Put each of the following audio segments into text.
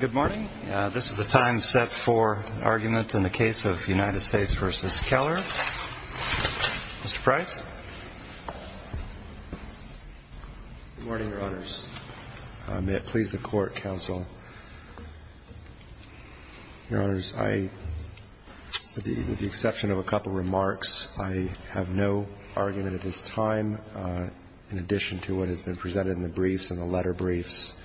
Good morning. This is the time set for argument in the case of United States v. Keller. Mr. Price. Good morning, Your Honors. May it please the Court, Counsel. Your Honors, I, with the exception of a couple remarks, I have no argument at this time in addition to what has been presented in the briefs and the letter briefs.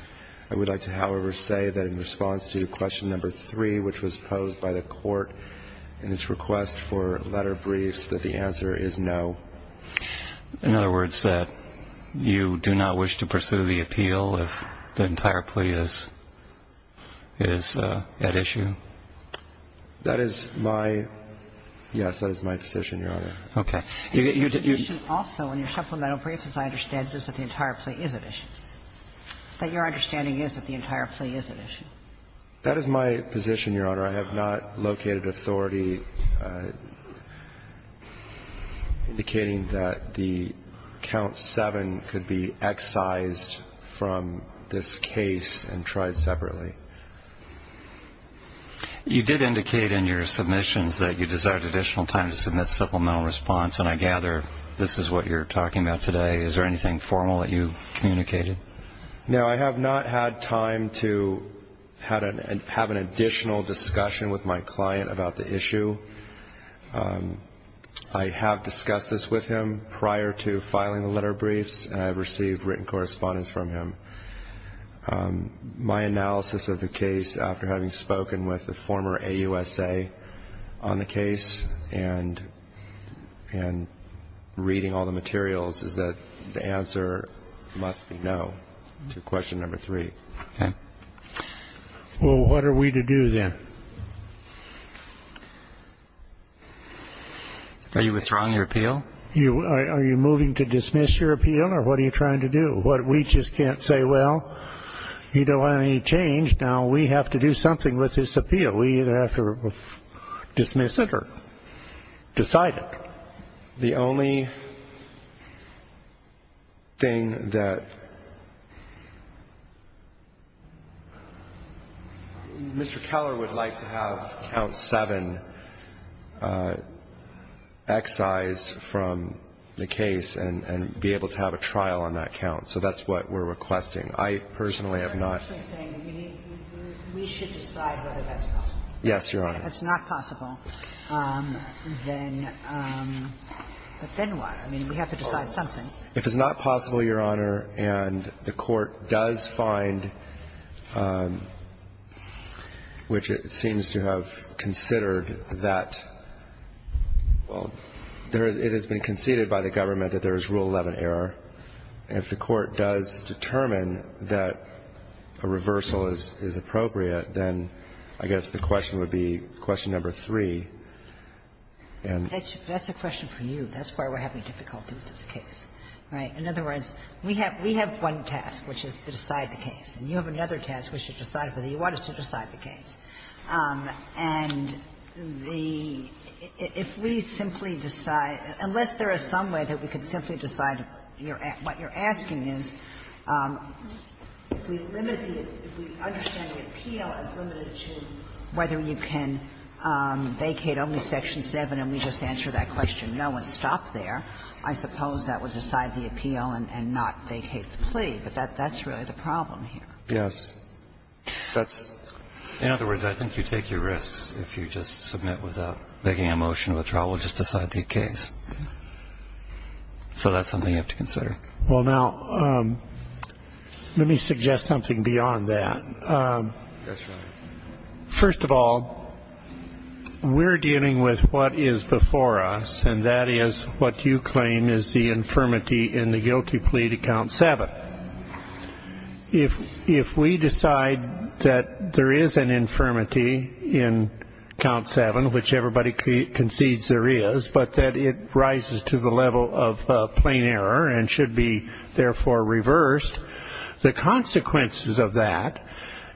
I would like to, however, say that in response to question number three, which was posed by the Court in its request for letter briefs, that the answer is no. In other words, that you do not wish to pursue the appeal if the entire plea is at issue? That is my – yes, that is my position, Your Honor. Okay. Also, in your supplemental briefs, as I understand this, that the entire plea is at issue. That your understanding is that the entire plea is at issue. That is my position, Your Honor. I have not located authority indicating that the count seven could be excised from this case and tried separately. You did indicate in your submissions that you desired additional time to submit supplemental response, and I gather this is what you're talking about today. Is there anything formal that you communicated? No, I have not had time to have an additional discussion with my client about the issue. I have discussed this with him prior to filing the letter briefs, and I have received written correspondence from him. My analysis of the case, after having spoken with the former AUSA on the case and reading all the materials, is that the answer must be no to question number three. Okay. Well, what are we to do then? Are you withdrawing your appeal? Are you moving to dismiss your appeal, or what are you trying to do? We just can't say, well, you don't want any change. Now we have to do something with this appeal. We either have to dismiss it or decide it. The only thing that Mr. Keller would like to have count seven excised from the case and be able to have a trial on that count. So that's what we're requesting. I personally have not. We should decide whether that's possible. Yes, Your Honor. If it's not possible, then what? I mean, we have to decide something. If it's not possible, Your Honor, and the Court does find, which it seems to have considered that, well, it has been conceded by the government that there is Rule 11 error. If the Court does determine that a reversal is appropriate, then I guess the question would be question number three and. That's a question for you. That's why we're having difficulty with this case. Right? In other words, we have one task, which is to decide the case. And you have another task, which is to decide whether you want us to decide the case. And the – if we simply decide – unless there is some way that we could simply decide what you're asking is, if we limit the – if we understand the appeal as limited to whether you can vacate only Section 7 and we just answer that question, no, and stop there, I suppose that would decide the appeal and not vacate the plea. But that's really the problem here. Yes. That's – In other words, I think you take your risks. If you just submit without making a motion of a trial, we'll just decide the case. So that's something you have to consider. Well, now, let me suggest something beyond that. Yes, Your Honor. First of all, we're dealing with what is before us, and that is what you claim is the infirmity in the guilty plea to Count 7. If we decide that there is an infirmity in Count 7, which everybody concedes there is, but that it rises to the level of plain error and should be, therefore, reversed, the consequences of that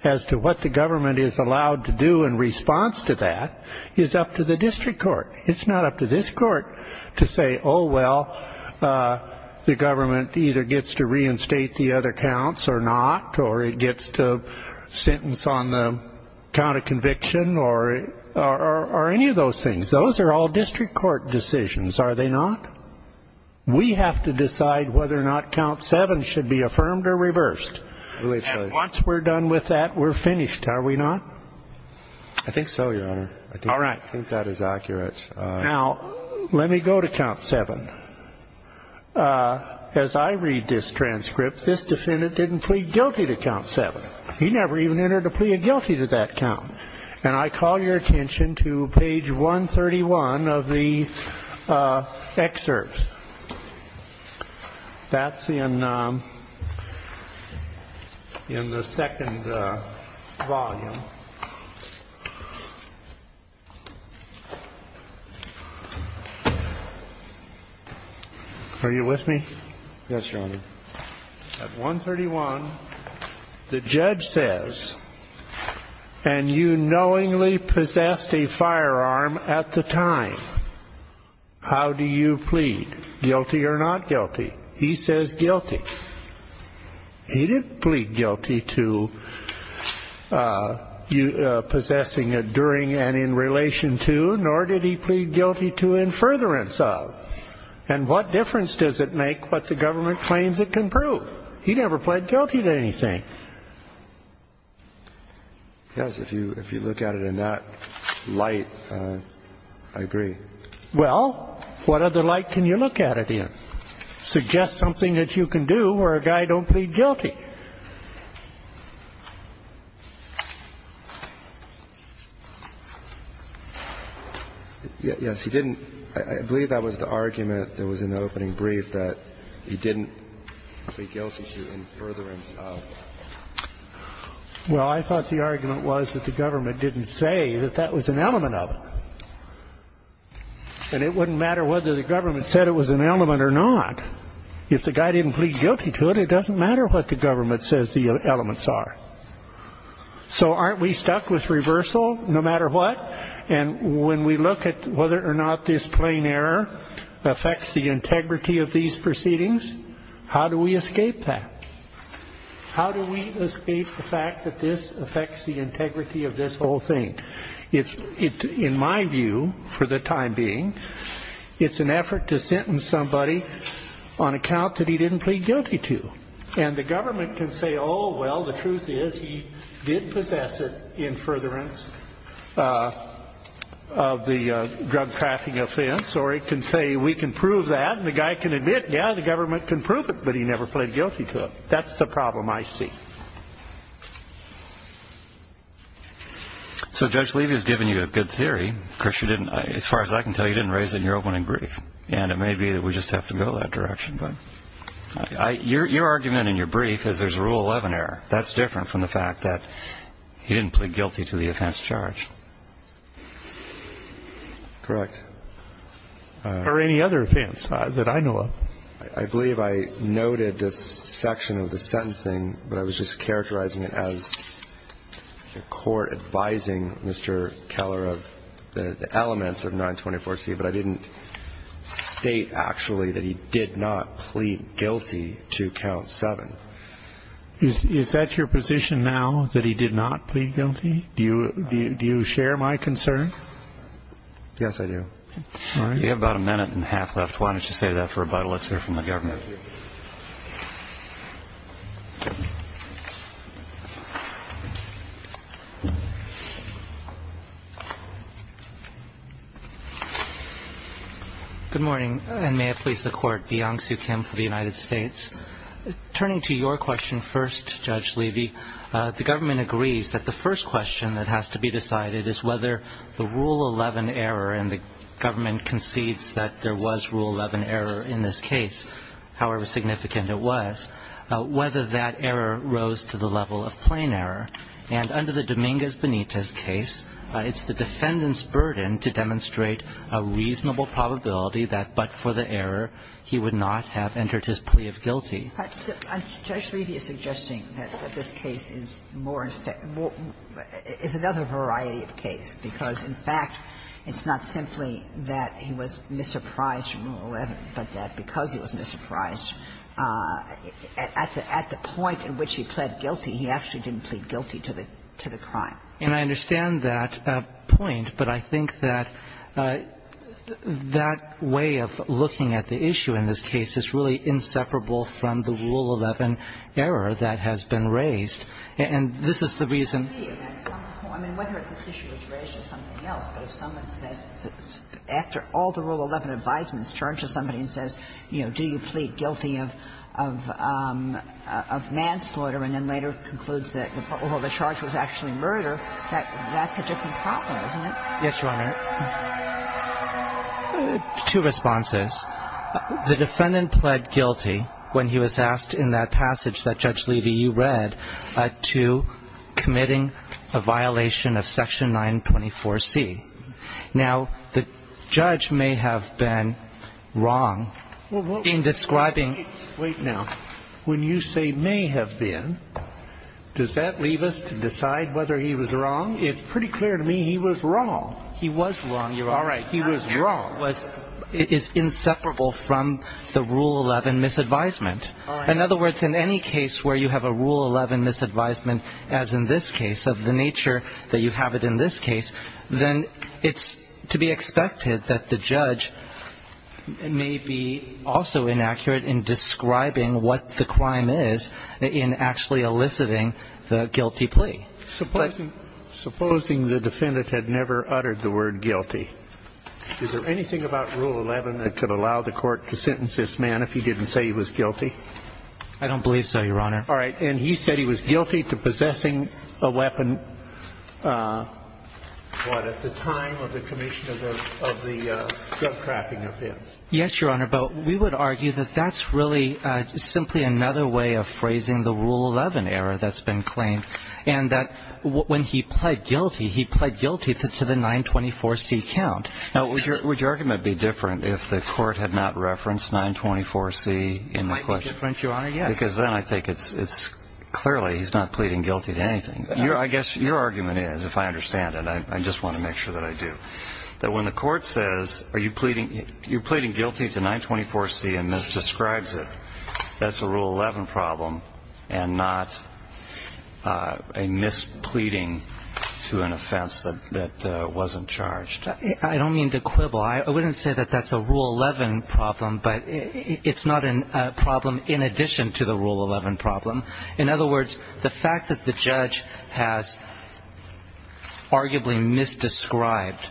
as to what the government is allowed to do in response to that is up to the district court. It's not up to this court to say, oh, well, the government either gets to reinstate the other counts or not or it gets to sentence on the count of conviction or any of those things. Those are all district court decisions, are they not? We have to decide whether or not Count 7 should be affirmed or reversed. And once we're done with that, we're finished, are we not? I think so, Your Honor. All right. I think that is accurate. Now, let me go to Count 7. As I read this transcript, this defendant didn't plead guilty to Count 7. He never even entered a plea of guilty to that count. And I call your attention to page 131 of the excerpt. That's in the second volume. Are you with me? Yes, Your Honor. At 131, the judge says, and you knowingly possessed a firearm at the time, how do you plead? Guilty or not guilty? He says guilty. He didn't plead guilty to possessing it during and in relation to, nor did he plead guilty to in furtherance of. And what difference does it make what the government claims it can prove? He never pled guilty to anything. Yes, if you look at it in that light, I agree. Well, what other light can you look at it in? Suggest something that you can do where a guy don't plead guilty. Yes, he didn't. I believe that was the argument that was in the opening brief, that he didn't plead guilty to in furtherance of. Well, I thought the argument was that the government didn't say that that was an element of it. And it wouldn't matter whether the government said it was an element or not. If the guy didn't plead guilty to it, it doesn't matter what the government says the elements are. So aren't we stuck with reversal no matter what? And when we look at whether or not this plain error affects the integrity of these proceedings, how do we escape that? How do we escape the fact that this affects the integrity of this whole thing? In my view, for the time being, it's an effort to sentence somebody on account that he didn't plead guilty to. And the government can say, oh, well, the truth is he did possess it in furtherance of the drug trafficking offense. Or it can say, we can prove that. And the guy can admit, yeah, the government can prove it, but he never pled guilty to it. That's the problem I see. Well, Judge Levy has given you a good theory. Of course, as far as I can tell, you didn't raise it in your opening brief. And it may be that we just have to go that direction. But your argument in your brief is there's a Rule 11 error. That's different from the fact that he didn't plead guilty to the offense charge. Correct. Or any other offense that I know of. I believe I noted this section of the sentencing. But I was just characterizing it as the court advising Mr. Keller of the elements of 924C. But I didn't state, actually, that he did not plead guilty to count 7. Is that your position now, that he did not plead guilty? Do you share my concern? Yes, I do. All right. You have about a minute and a half left. Why don't you save that for rebuttal? Let's hear from the government. Thank you. Good morning. And may it please the Court, Beyonce Kim for the United States. Turning to your question first, Judge Levy, the government agrees that the first question that has to be decided is whether the Rule 11 error and the government concedes that there was Rule 11 error in this case, however significant it was, whether that error rose to the level of plain error. And under the Dominguez-Benitez case, it's the defendant's burden to demonstrate a reasonable probability that, but for the error, he would not have entered his plea of guilty. Judge Levy is suggesting that this case is more, is another variety of case, because in fact, it's not simply that he was misapprised from Rule 11, but that because he was misapprised, at the point at which he pled guilty, he actually didn't plead guilty to the crime. And I understand that point, but I think that that way of looking at the issue in this case is really inseparable from the Rule 11 error that has been raised. And this is the reason. I mean, whether this issue was raised or something else, but if someone says, after all the Rule 11 advisements, charges somebody and says, you know, do you plead guilty of manslaughter, and then later concludes that the charge was actually murder, that's a different problem, isn't it? Yes, Your Honor. Two responses. The defendant pled guilty when he was asked in that passage that Judge Levy, you read, to committing a violation of Section 924C. Now, the judge may have been wrong in describing. Wait now. When you say may have been, does that leave us to decide whether he was wrong? It's pretty clear to me he was wrong. He was wrong, Your Honor. All right. He was wrong. It is inseparable from the Rule 11 misadvisement. All right. In other words, in any case where you have a Rule 11 misadvisement, as in this case, of the nature that you have it in this case, then it's to be expected that the judge may be also inaccurate in describing what the crime is in actually eliciting the guilty plea. Supposing the defendant had never uttered the word guilty, is there anything about Rule 11 that could allow the court to sentence this man if he didn't say he was guilty? I don't believe so, Your Honor. All right. And he said he was guilty to possessing a weapon, what, at the time of the commission of the drug trafficking offense. Yes, Your Honor. But we would argue that that's really simply another way of phrasing the Rule 11 error that's been claimed, and that when he pled guilty, he pled guilty to the 924C count. Now, would your argument be different if the court had not referenced 924C in the question? It might be different, Your Honor, yes. Because then I think it's clearly he's not pleading guilty to anything. I guess your argument is, if I understand it, I just want to make sure that I do, that when the court says, are you pleading guilty to 924C and misdescribes it, that's a Rule 11 problem and not a mispleading to an offense that wasn't charged. I don't mean to quibble. I wouldn't say that that's a Rule 11 problem, but it's not a problem in addition to the Rule 11 problem. In other words, the fact that the judge has arguably misdescribed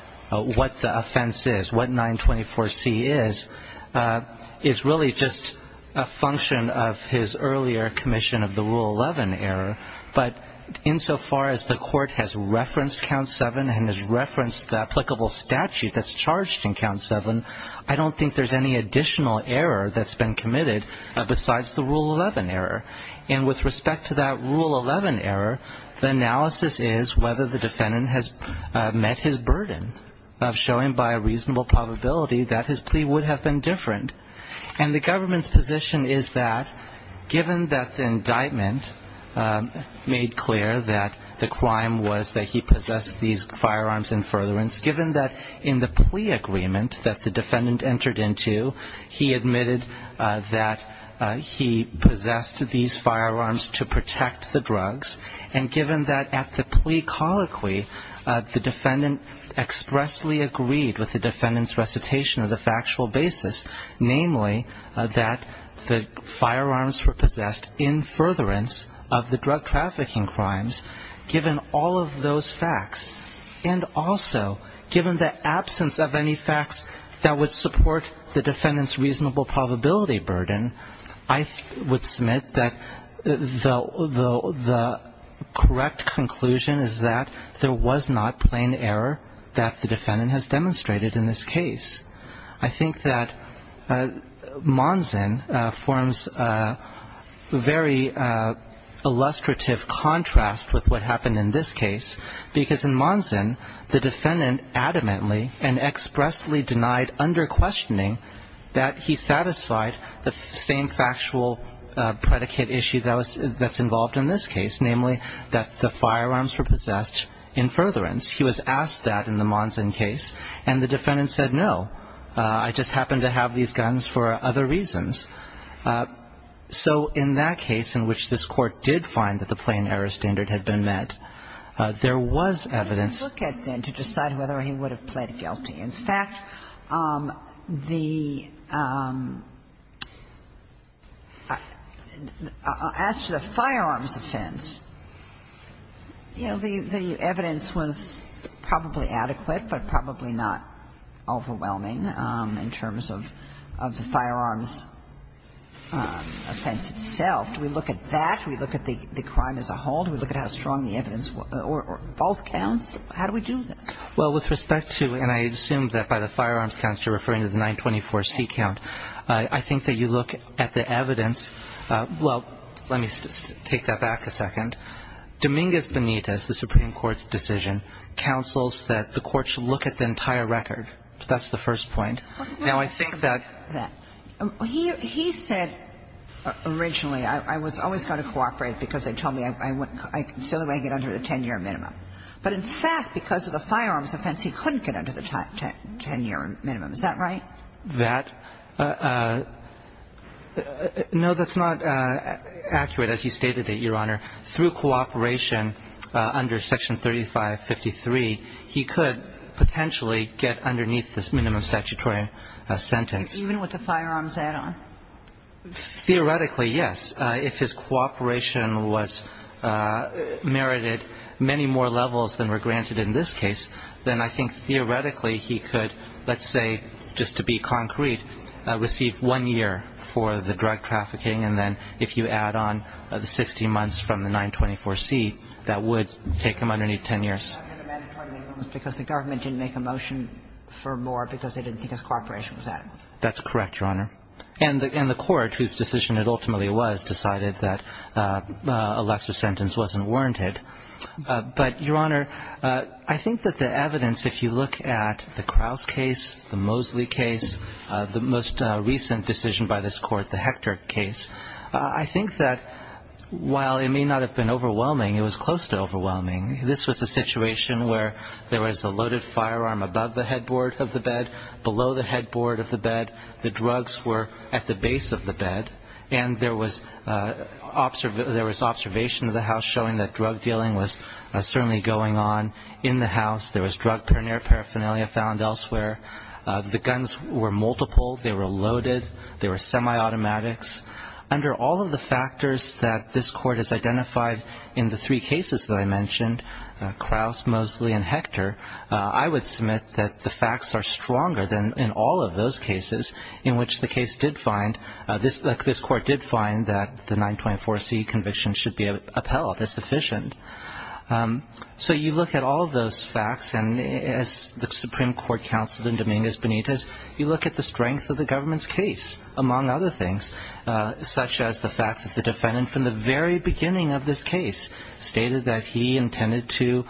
what the offense is, what 924C is, is really just a function of his earlier commission of the Rule 11 error. But insofar as the court has referenced count seven and has referenced the applicable statute that's charged in count seven, I don't think there's any additional error that's been committed besides the Rule 11 error. And with respect to that Rule 11 error, the analysis is whether the defendant has met his burden of showing by a reasonable probability that his plea would have been different. And the government's position is that given that the indictment made clear that the crime was that he possessed these firearms in furtherance, given that in the plea agreement that the defendant entered into, he admitted that he possessed these firearms to protect the drugs, and given that at the plea colloquy, the defendant expressly agreed with the defendant's recitation of the factual basis, namely that the firearms were possessed in furtherance of the drug trafficking crimes, given all of those facts. And also, given the absence of any facts that would support the defendant's reasonable probability burden, I would submit that the correct conclusion is that there was not plain error that the defendant has demonstrated in this case. I think that Monson forms a very illustrative contrast with what happened in this case, because in Monson, the defendant adamantly and expressly denied under questioning that he satisfied the same factual predicate issue that's involved in this case, namely that the firearms were possessed in furtherance. He was asked that in the Monson case, and the defendant said, no, I just happen to have these guns for other reasons. So in that case, in which this Court did find that the plain error standard had been met, there was evidence to decide whether he would have pled guilty. In fact, the as to the firearms offense, you know, the evidence was probably adequate, but probably not overwhelming in terms of the firearms offense itself. Do we look at that? Do we look at the crime as a whole? Do we look at how strong the evidence or both counts? How do we do this? Well, with respect to, and I assume that by the firearms counts you're referring to the 924C count, I think that you look at the evidence. Well, let me take that back a second. Dominguez Benitez, the Supreme Court's decision, counsels that the Court should look at the entire record. That's the first point. Now, I think that he said originally, I was always going to cooperate because they told me I wouldn't. I consider I get under the 10-year minimum. But in fact, because of the firearms offense, he couldn't get under the 10-year minimum. Is that right? That no, that's not accurate, as you stated it, Your Honor. Through cooperation under Section 3553, he could potentially get underneath this minimum statutory sentence. Even with the firearms add-on? Theoretically, yes. If his cooperation was merited many more levels than were granted in this case, then I think theoretically he could, let's say, just to be concrete, receive one year for the drug trafficking. And then if you add on the 16 months from the 924C, that would take him underneath 10 years. Because the government didn't make a motion for more because they didn't think his cooperation was adequate. That's correct, Your Honor. And the court, whose decision it ultimately was, decided that a lesser sentence wasn't warranted. But, Your Honor, I think that the evidence, if you look at the Kraus case, the Mosley case, the most recent decision by this court, the Hector case, I think that while it may not have been overwhelming, it was close to overwhelming. This was a situation where there was a loaded firearm above the headboard of the bed, below the headboard of the bed. The drugs were at the base of the bed. And there was observation of the house showing that drug dealing was certainly going on in the house. There was drug paraphernalia found elsewhere. The guns were multiple. They were loaded. They were semi-automatics. Under all of the factors that this court has identified in the three cases that I mentioned, Kraus, Mosley, and Hector, I would submit that the facts are stronger than in all of those cases in which the case did find, this court did find that the 924C conviction should be upheld as sufficient. So you look at all of those facts, and as the Supreme Court counseled in Dominguez Benitez, you look at the strength of the government's case, among other things, such as the fact that the defendant from the very beginning of this case stated that he intended to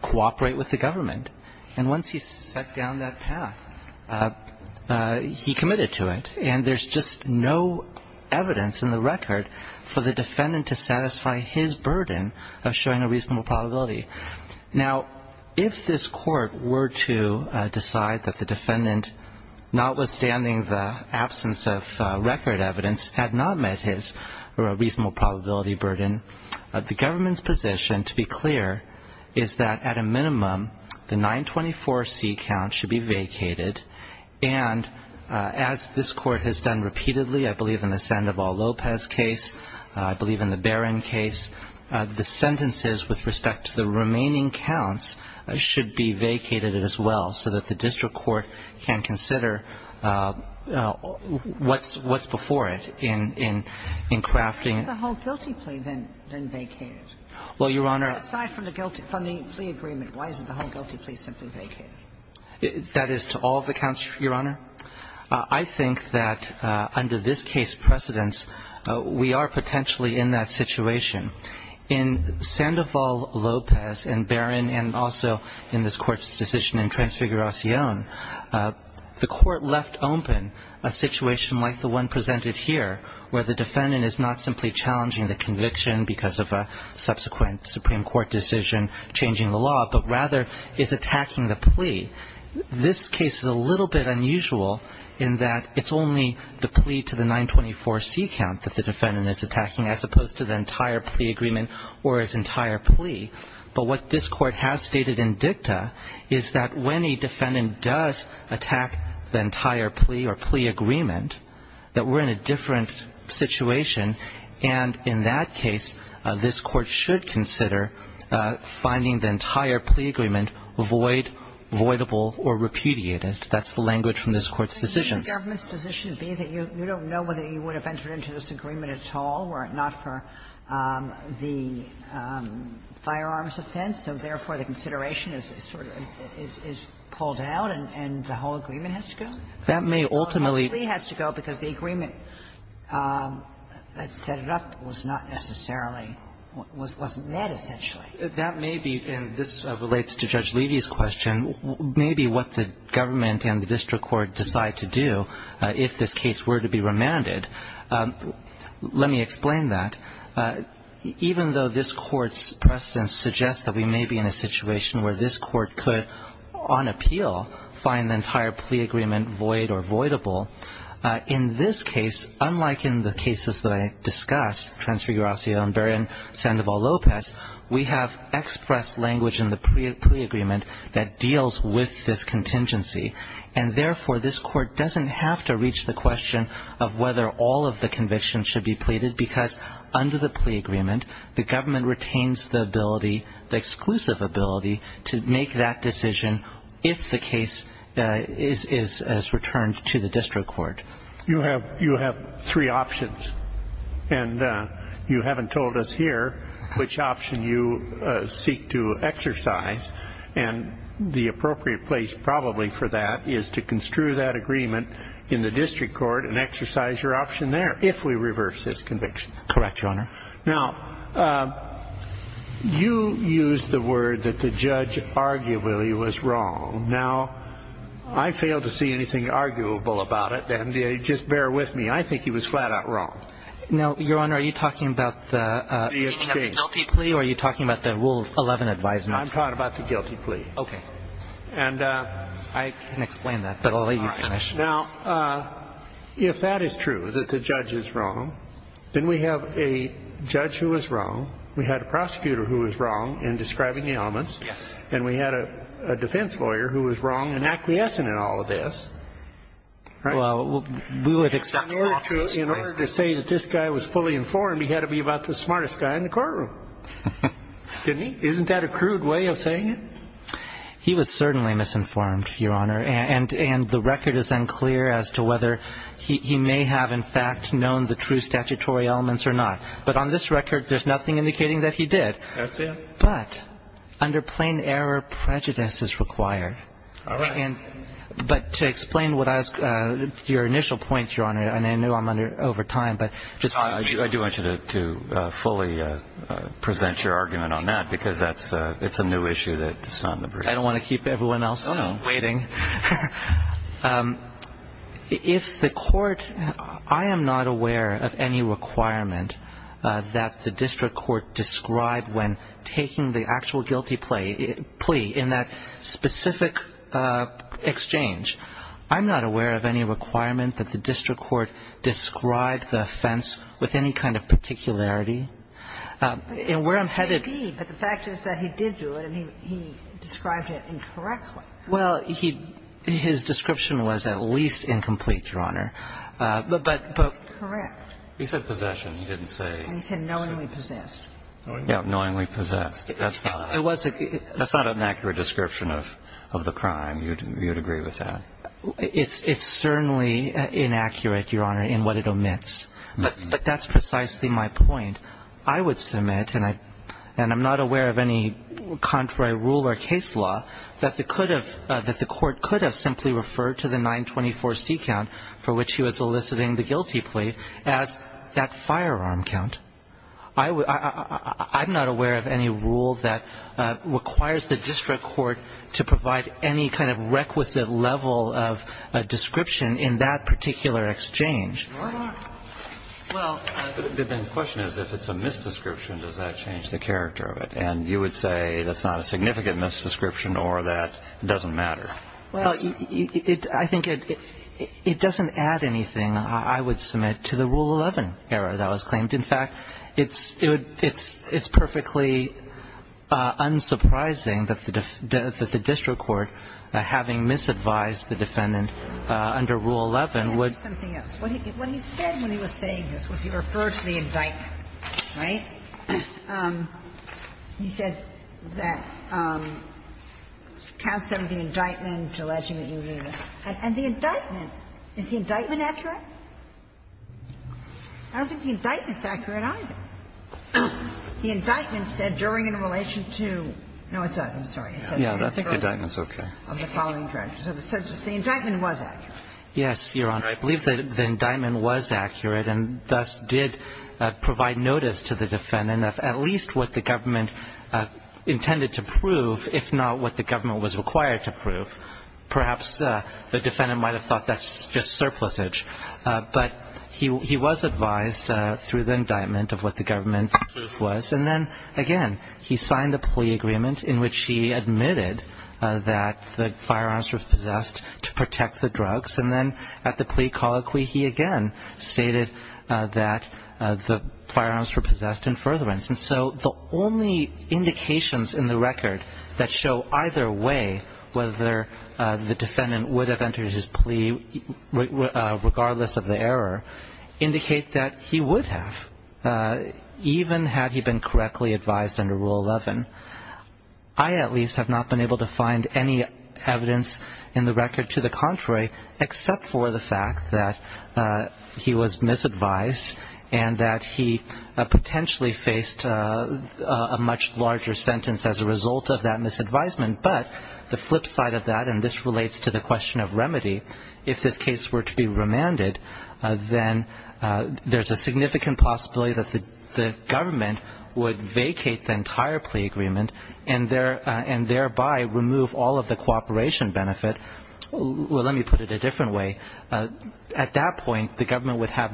cooperate with the government. And once he set down that path, he committed to it. And there's just no evidence in the record for the defendant to satisfy his burden of showing a reasonable probability. Now, if this court were to decide that the defendant, notwithstanding the absence of record evidence, had not met his reasonable probability burden, the 924C count should be vacated. And as this court has done repeatedly, I believe in the Sandoval-Lopez case, I believe in the Barron case, the sentences with respect to the remaining counts should be vacated as well so that the district court can consider what's before it in crafting the whole guilty plea than vacated. Well, Your Honor. But aside from the guilty plea agreement, why isn't the whole guilty plea simply vacated? That is to all of the counts, Your Honor. I think that under this case precedence, we are potentially in that situation. In Sandoval-Lopez and Barron and also in this Court's decision in Transfiguration, the Court left open a situation like the one presented here where the defendant is not simply challenging the conviction because of a subsequent Supreme Court decision changing the law, but rather is attacking the plea. This case is a little bit unusual in that it's only the plea to the 924C count that the defendant is attacking as opposed to the entire plea agreement or his entire plea. But what this Court has stated in dicta is that when a defendant does attack the different situation, and in that case, this Court should consider finding the entire plea agreement void, voidable, or repudiated. That's the language from this Court's decisions. But wouldn't the government's position be that you don't know whether you would have entered into this agreement at all were it not for the firearms offense, so therefore the consideration is sort of pulled out and the whole agreement has to go? That may ultimately go. It has to go because the agreement that set it up was not necessarily, wasn't that essentially. That may be, and this relates to Judge Levy's question, may be what the government and the district court decide to do if this case were to be remanded. Let me explain that. Even though this Court's precedence suggests that we may be in a situation where this Court could, on appeal, find the entire plea agreement void or voidable, in this case, unlike in the cases that I discussed, Transfiguracio and Barron Sandoval-Lopez, we have express language in the plea agreement that deals with this contingency, and therefore this Court doesn't have to reach the question of whether all of the convictions should be pleaded because under the plea agreement, the decision, if the case is returned to the district court. You have three options, and you haven't told us here which option you seek to exercise, and the appropriate place probably for that is to construe that agreement in the district court and exercise your option there, if we reverse this conviction. Correct, Your Honor. Now, you used the word that the judge arguably was wrong. Now, I fail to see anything arguable about it, and just bear with me. I think he was flat-out wrong. No, Your Honor. Are you talking about the guilty plea or are you talking about the Rule 11 advisement? I'm talking about the guilty plea. Okay. And I can explain that, but I'll let you finish. Now, if that is true, that the judge is wrong, then we have a judge who was wrong, we had a prosecutor who was wrong in describing the elements, and we had a defense lawyer who was wrong in acquiescing in all of this. Well, we would accept that. In order to say that this guy was fully informed, he had to be about the smartest guy in the courtroom. Didn't he? Isn't that a crude way of saying it? He was certainly misinformed, Your Honor. And the record is unclear as to whether he may have, in fact, known the true statutory elements or not. But on this record, there's nothing indicating that he did. That's it. But under plain error, prejudice is required. All right. But to explain your initial point, Your Honor, and I know I'm over time. I do want you to fully present your argument on that because it's a new issue that's not in the brief. I don't want to keep everyone else waiting. If the court – I am not aware of any requirement that the district court describe when taking the actual guilty plea in that specific exchange. I'm not aware of any requirement that the district court describe the offense with any kind of particularity. And where I'm headed But the fact is that he did do it, and he described it incorrectly. Well, he – his description was at least incomplete, Your Honor. But – but – Correct. He said possession. He didn't say – He said knowingly possessed. Yeah, knowingly possessed. That's not – It was – That's not an accurate description of the crime. You would agree with that? It's certainly inaccurate, Your Honor, in what it omits. But that's precisely my point. I would submit, and I'm not aware of any contrary rule or case law that the could have – that the court could have simply referred to the 924C count for which he was eliciting the guilty plea as that firearm count. I'm not aware of any rule that requires the district court to provide any kind of requisite level of description in that particular exchange. Well, the question is, if it's a misdescription, does that change the character of it? And you would say that's not a significant misdescription or that it doesn't matter. Well, I think it – it doesn't add anything, I would submit, to the Rule 11 error that was claimed. In fact, it's – it's perfectly unsurprising that the district court, having misadvised the defendant under Rule 11, would – And let me ask you something else. What he said when he was saying this was he referred to the indictment, right? He said that count 7 of the indictment, the last year that you were doing this. And the indictment, is the indictment accurate? I don't think the indictment's accurate either. The indictment said during in relation to – no, it doesn't. I'm sorry. It says during. Yeah, I think the indictment's okay. Of the following charges. So the indictment was accurate. Yes, Your Honor. I believe that the indictment was accurate and thus did provide notice to the defendant of at least what the government intended to prove, if not what the government was required to prove. Perhaps the defendant might have thought that's just surplusage. But he was advised through the indictment of what the government's proof was. And then, again, he signed a plea agreement in which he admitted that the firearms were possessed to protect the drugs. And then at the plea colloquy, he again stated that the firearms were possessed in furtherance. And so the only indications in the record that show either way whether the defendant would have entered his plea, regardless of the error, indicate that he would have, even had he been correctly advised under Rule 11. I, at least, have not been able to find any evidence in the record to the contrary, except for the fact that he was misadvised and that he potentially faced a much larger sentence as a result of that misadvisement. But the flip side of that, and this relates to the question of remedy, if this case were to be remanded, then there's a significant possibility that the government would have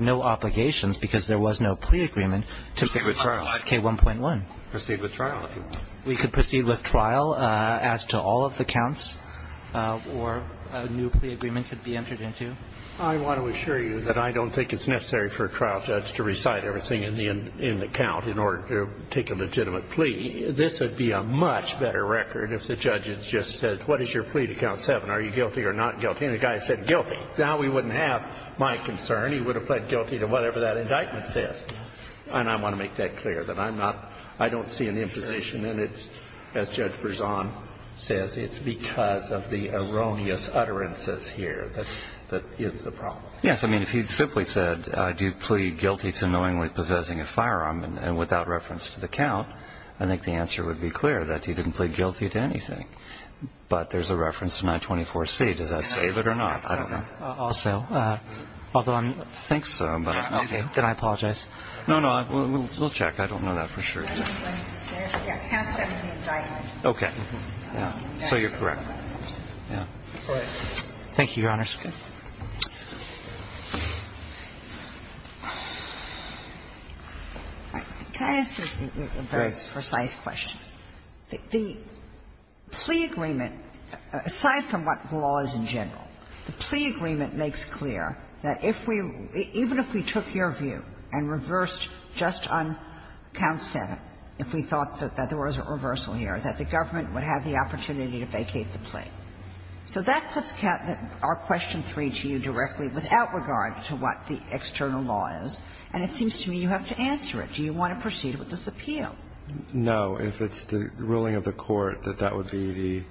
no obligations because there was no plea agreement to 5K1.1. We could proceed with trial as to all of the counts, or a new plea agreement could be entered into. I want to assure you that I don't think it's necessary for a trial judge to recite everything in the count in order to take a legitimate plea. I think this would be a much better record if the judge had just said, what is your plea to Count 7? Are you guilty or not guilty? And the guy said, guilty. Now we wouldn't have my concern. He would have pled guilty to whatever that indictment says. And I want to make that clear, that I'm not – I don't see an imposition in it. As Judge Berzon says, it's because of the erroneous utterances here that is the problem. Yes. I mean, if he simply said, I do plead guilty to knowingly possessing a firearm and without reference to the count, I think the answer would be clear, that he didn't plead guilty to anything. But there's a reference to 924C. Does that save it or not? I don't know. Also, although I think so. Okay. Did I apologize? No, no. We'll check. I don't know that for sure. Okay. Yeah. So you're correct. Yeah. Thank you, Your Honors. Ginsburg. Can I ask a very precise question? The plea agreement, aside from what the law is in general, the plea agreement makes clear that if we – even if we took your view and reversed just on count 7, if we thought that there was a reversal here, that the government would have the opportunity to vacate the plea. So that puts our question 3 to you directly without regard to what the external law is, and it seems to me you have to answer it. Do you want to proceed with this appeal? No. If it's the ruling of the court that that would be the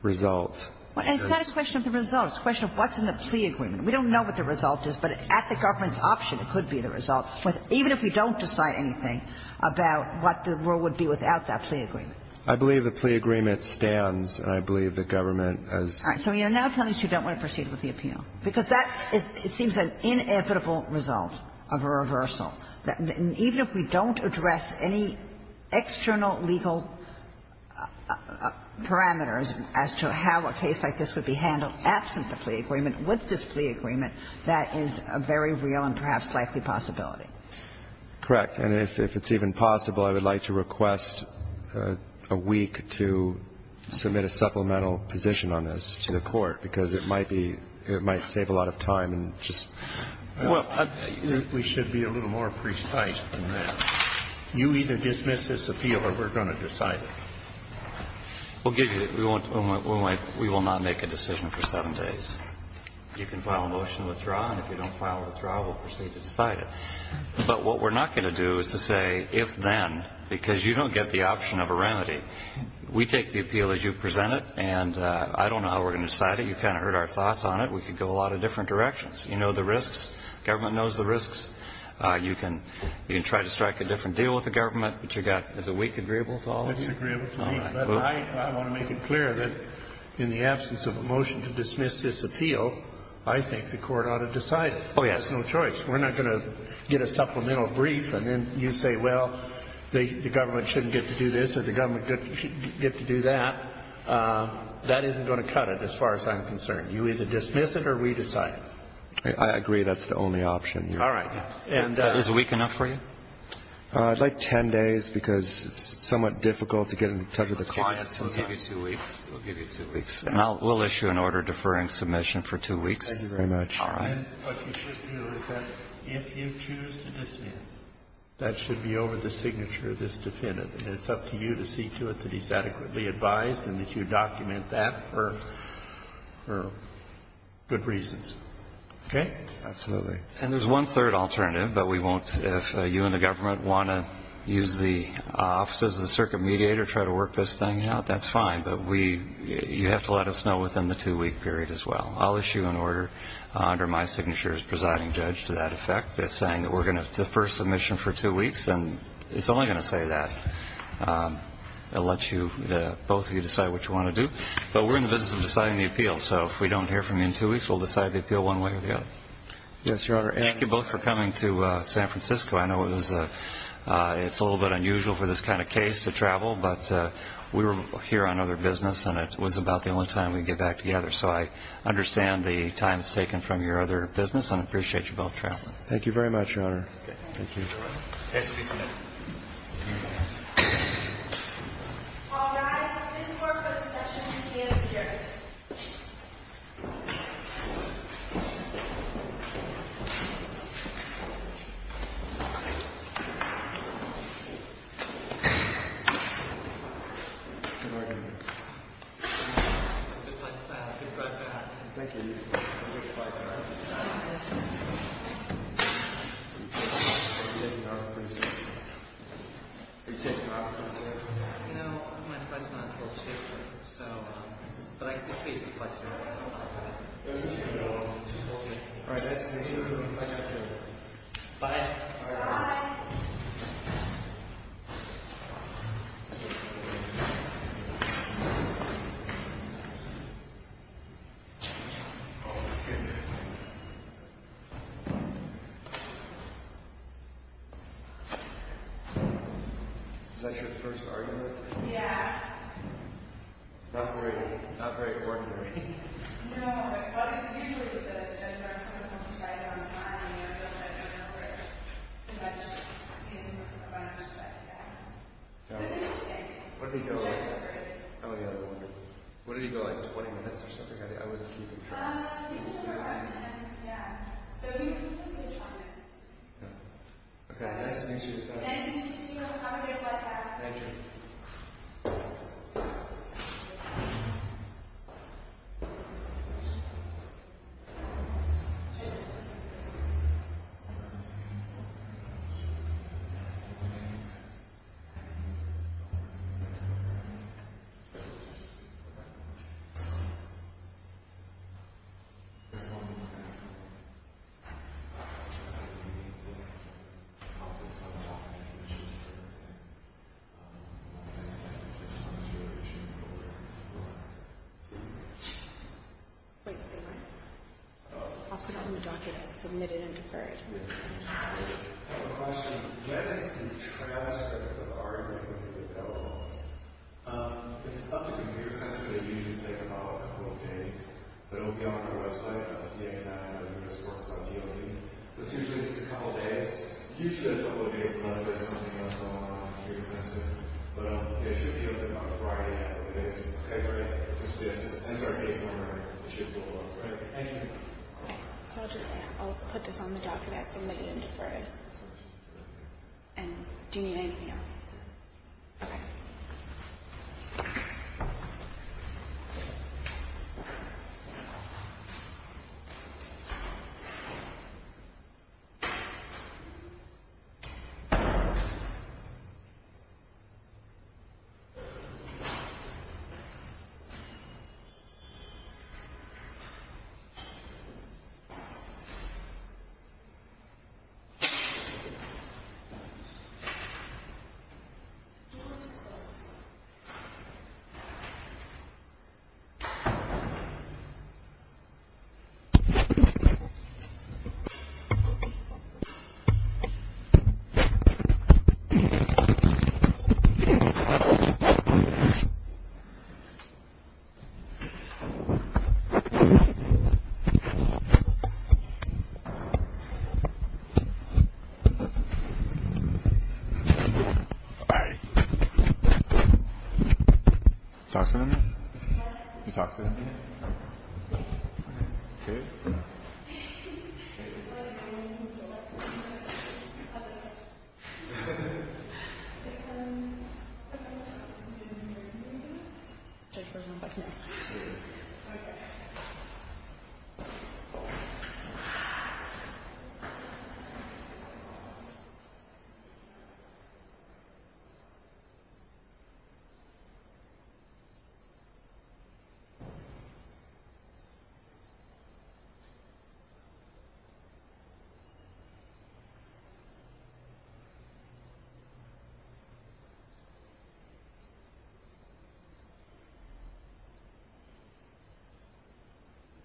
result. Well, it's not a question of the result. It's a question of what's in the plea agreement. We don't know what the result is, but at the government's option, it could be the result, even if we don't decide anything about what the rule would be without that plea agreement. I believe the plea agreement stands, and I believe the government has – All right. So you're now telling us you don't want to proceed with the appeal? Because that is – it seems an inevitable result of a reversal, that even if we don't address any external legal parameters as to how a case like this would be handled absent the plea agreement, with this plea agreement, that is a very real and perhaps likely possibility. Correct. And if it's even possible, I would like to request a week to submit a supplemental position on this to the court, because it might be – it might save a lot of time and just – Well, we should be a little more precise than that. You either dismiss this appeal or we're going to decide it. We'll give you – we won't – we will not make a decision for seven days. You can file a motion to withdraw, and if you don't file a withdrawal, we'll proceed to decide it. But what we're not going to do is to say, if then, because you don't get the option of a remedy. We take the appeal as you present it, and I don't know how we're going to decide it. You kind of heard our thoughts on it. We could go a lot of different directions. You know the risks. Government knows the risks. You can try to strike a different deal with the government, but you've got – is a week agreeable to all of you? It's agreeable to me, but I want to make it clear that in the absence of a motion to dismiss this appeal, I think the court ought to decide it. Oh, yes. There's no choice. We're not going to get a supplemental brief, and then you say, well, the government shouldn't get to do this, or the government should get to do that. That isn't going to cut it, as far as I'm concerned. You either dismiss it, or we decide it. I agree that's the only option. All right. And is a week enough for you? I'd like 10 days, because it's somewhat difficult to get in touch with the clients. We'll give you two weeks. We'll give you two weeks. And we'll issue an order deferring submission for two weeks. Thank you very much. All right. And what you should do is that if you choose to dismiss, that should be over the signature of this defendant. And it's up to you to see to it that he's adequately advised and that you document that for good reasons. Okay? Absolutely. And there's one third alternative, but we won't, if you and the government want to use the offices of the circuit mediator, try to work this thing out, that's fine. But we you have to let us know within the two-week period as well. I'll issue an order under my signature as presiding judge to that effect that's saying that we're going to defer submission for two weeks. And it's only going to say that. It will let both of you decide what you want to do. But we're in the business of deciding the appeal. So if we don't hear from you in two weeks, we'll decide the appeal one way or the other. Yes, Your Honor. Thank you both for coming to San Francisco. I know it's a little bit unusual for this kind of case to travel. But we were here on other business, and it was about the only time we could get back together. So I understand the time that's taken from your other business and appreciate you both traveling. Thank you very much, Your Honor. Thank you. This court is now in session. All rise. This court goes into session. This court goes into session. All rise. This court goes into session. Good morning. Just like that. I can drive back. Thank you. You're going to fight, right? Yes. Are you taking off? Are you taking off? You know, my fight's not until the shift. But I can just be here if I say I want to. Just hold me. All right, nice to meet you. Nice to meet you. Bye. Bye. Oh, my goodness. Is that your first argument? Yeah. Not very ordinary. No. Well, it's usually with a judge or someone who decides on time. You know, but I don't know where. Because I've just seen a bunch of other guys. This is a mistake. What did he go like? He's just afraid. Oh, yeah. What did he go like? 20 minutes or something. I wasn't keeping track. Um, he took her time. Yeah. So, he took five minutes. Yeah. Okay. Nice to meet you. Nice to meet you. Have a good flight back. Thank you. I'll put it in the document. Submit it and defer it. I have a question. I have a question. Is the genesis and transcript of the argument available? It's up to the computer center. They usually take about a couple of days. But it will be on our website. I'll just get it now. And then we'll just post it on DOD. But it's usually just a couple days. Usually a couple days unless there's something else going on at the computer center. But it should be open on Friday after the case. Okay? Right? It depends on the case number. It should look good. Right? Thank you. So, I'll just say, I'll put this on the document. Submit it and defer it. And do you need anything else? Okay. Thank you. Thank you. Thank you. Hi. You talking to me? You talking to me? Okay. Okay. Okay. Okay. Okay. Okay. Okay.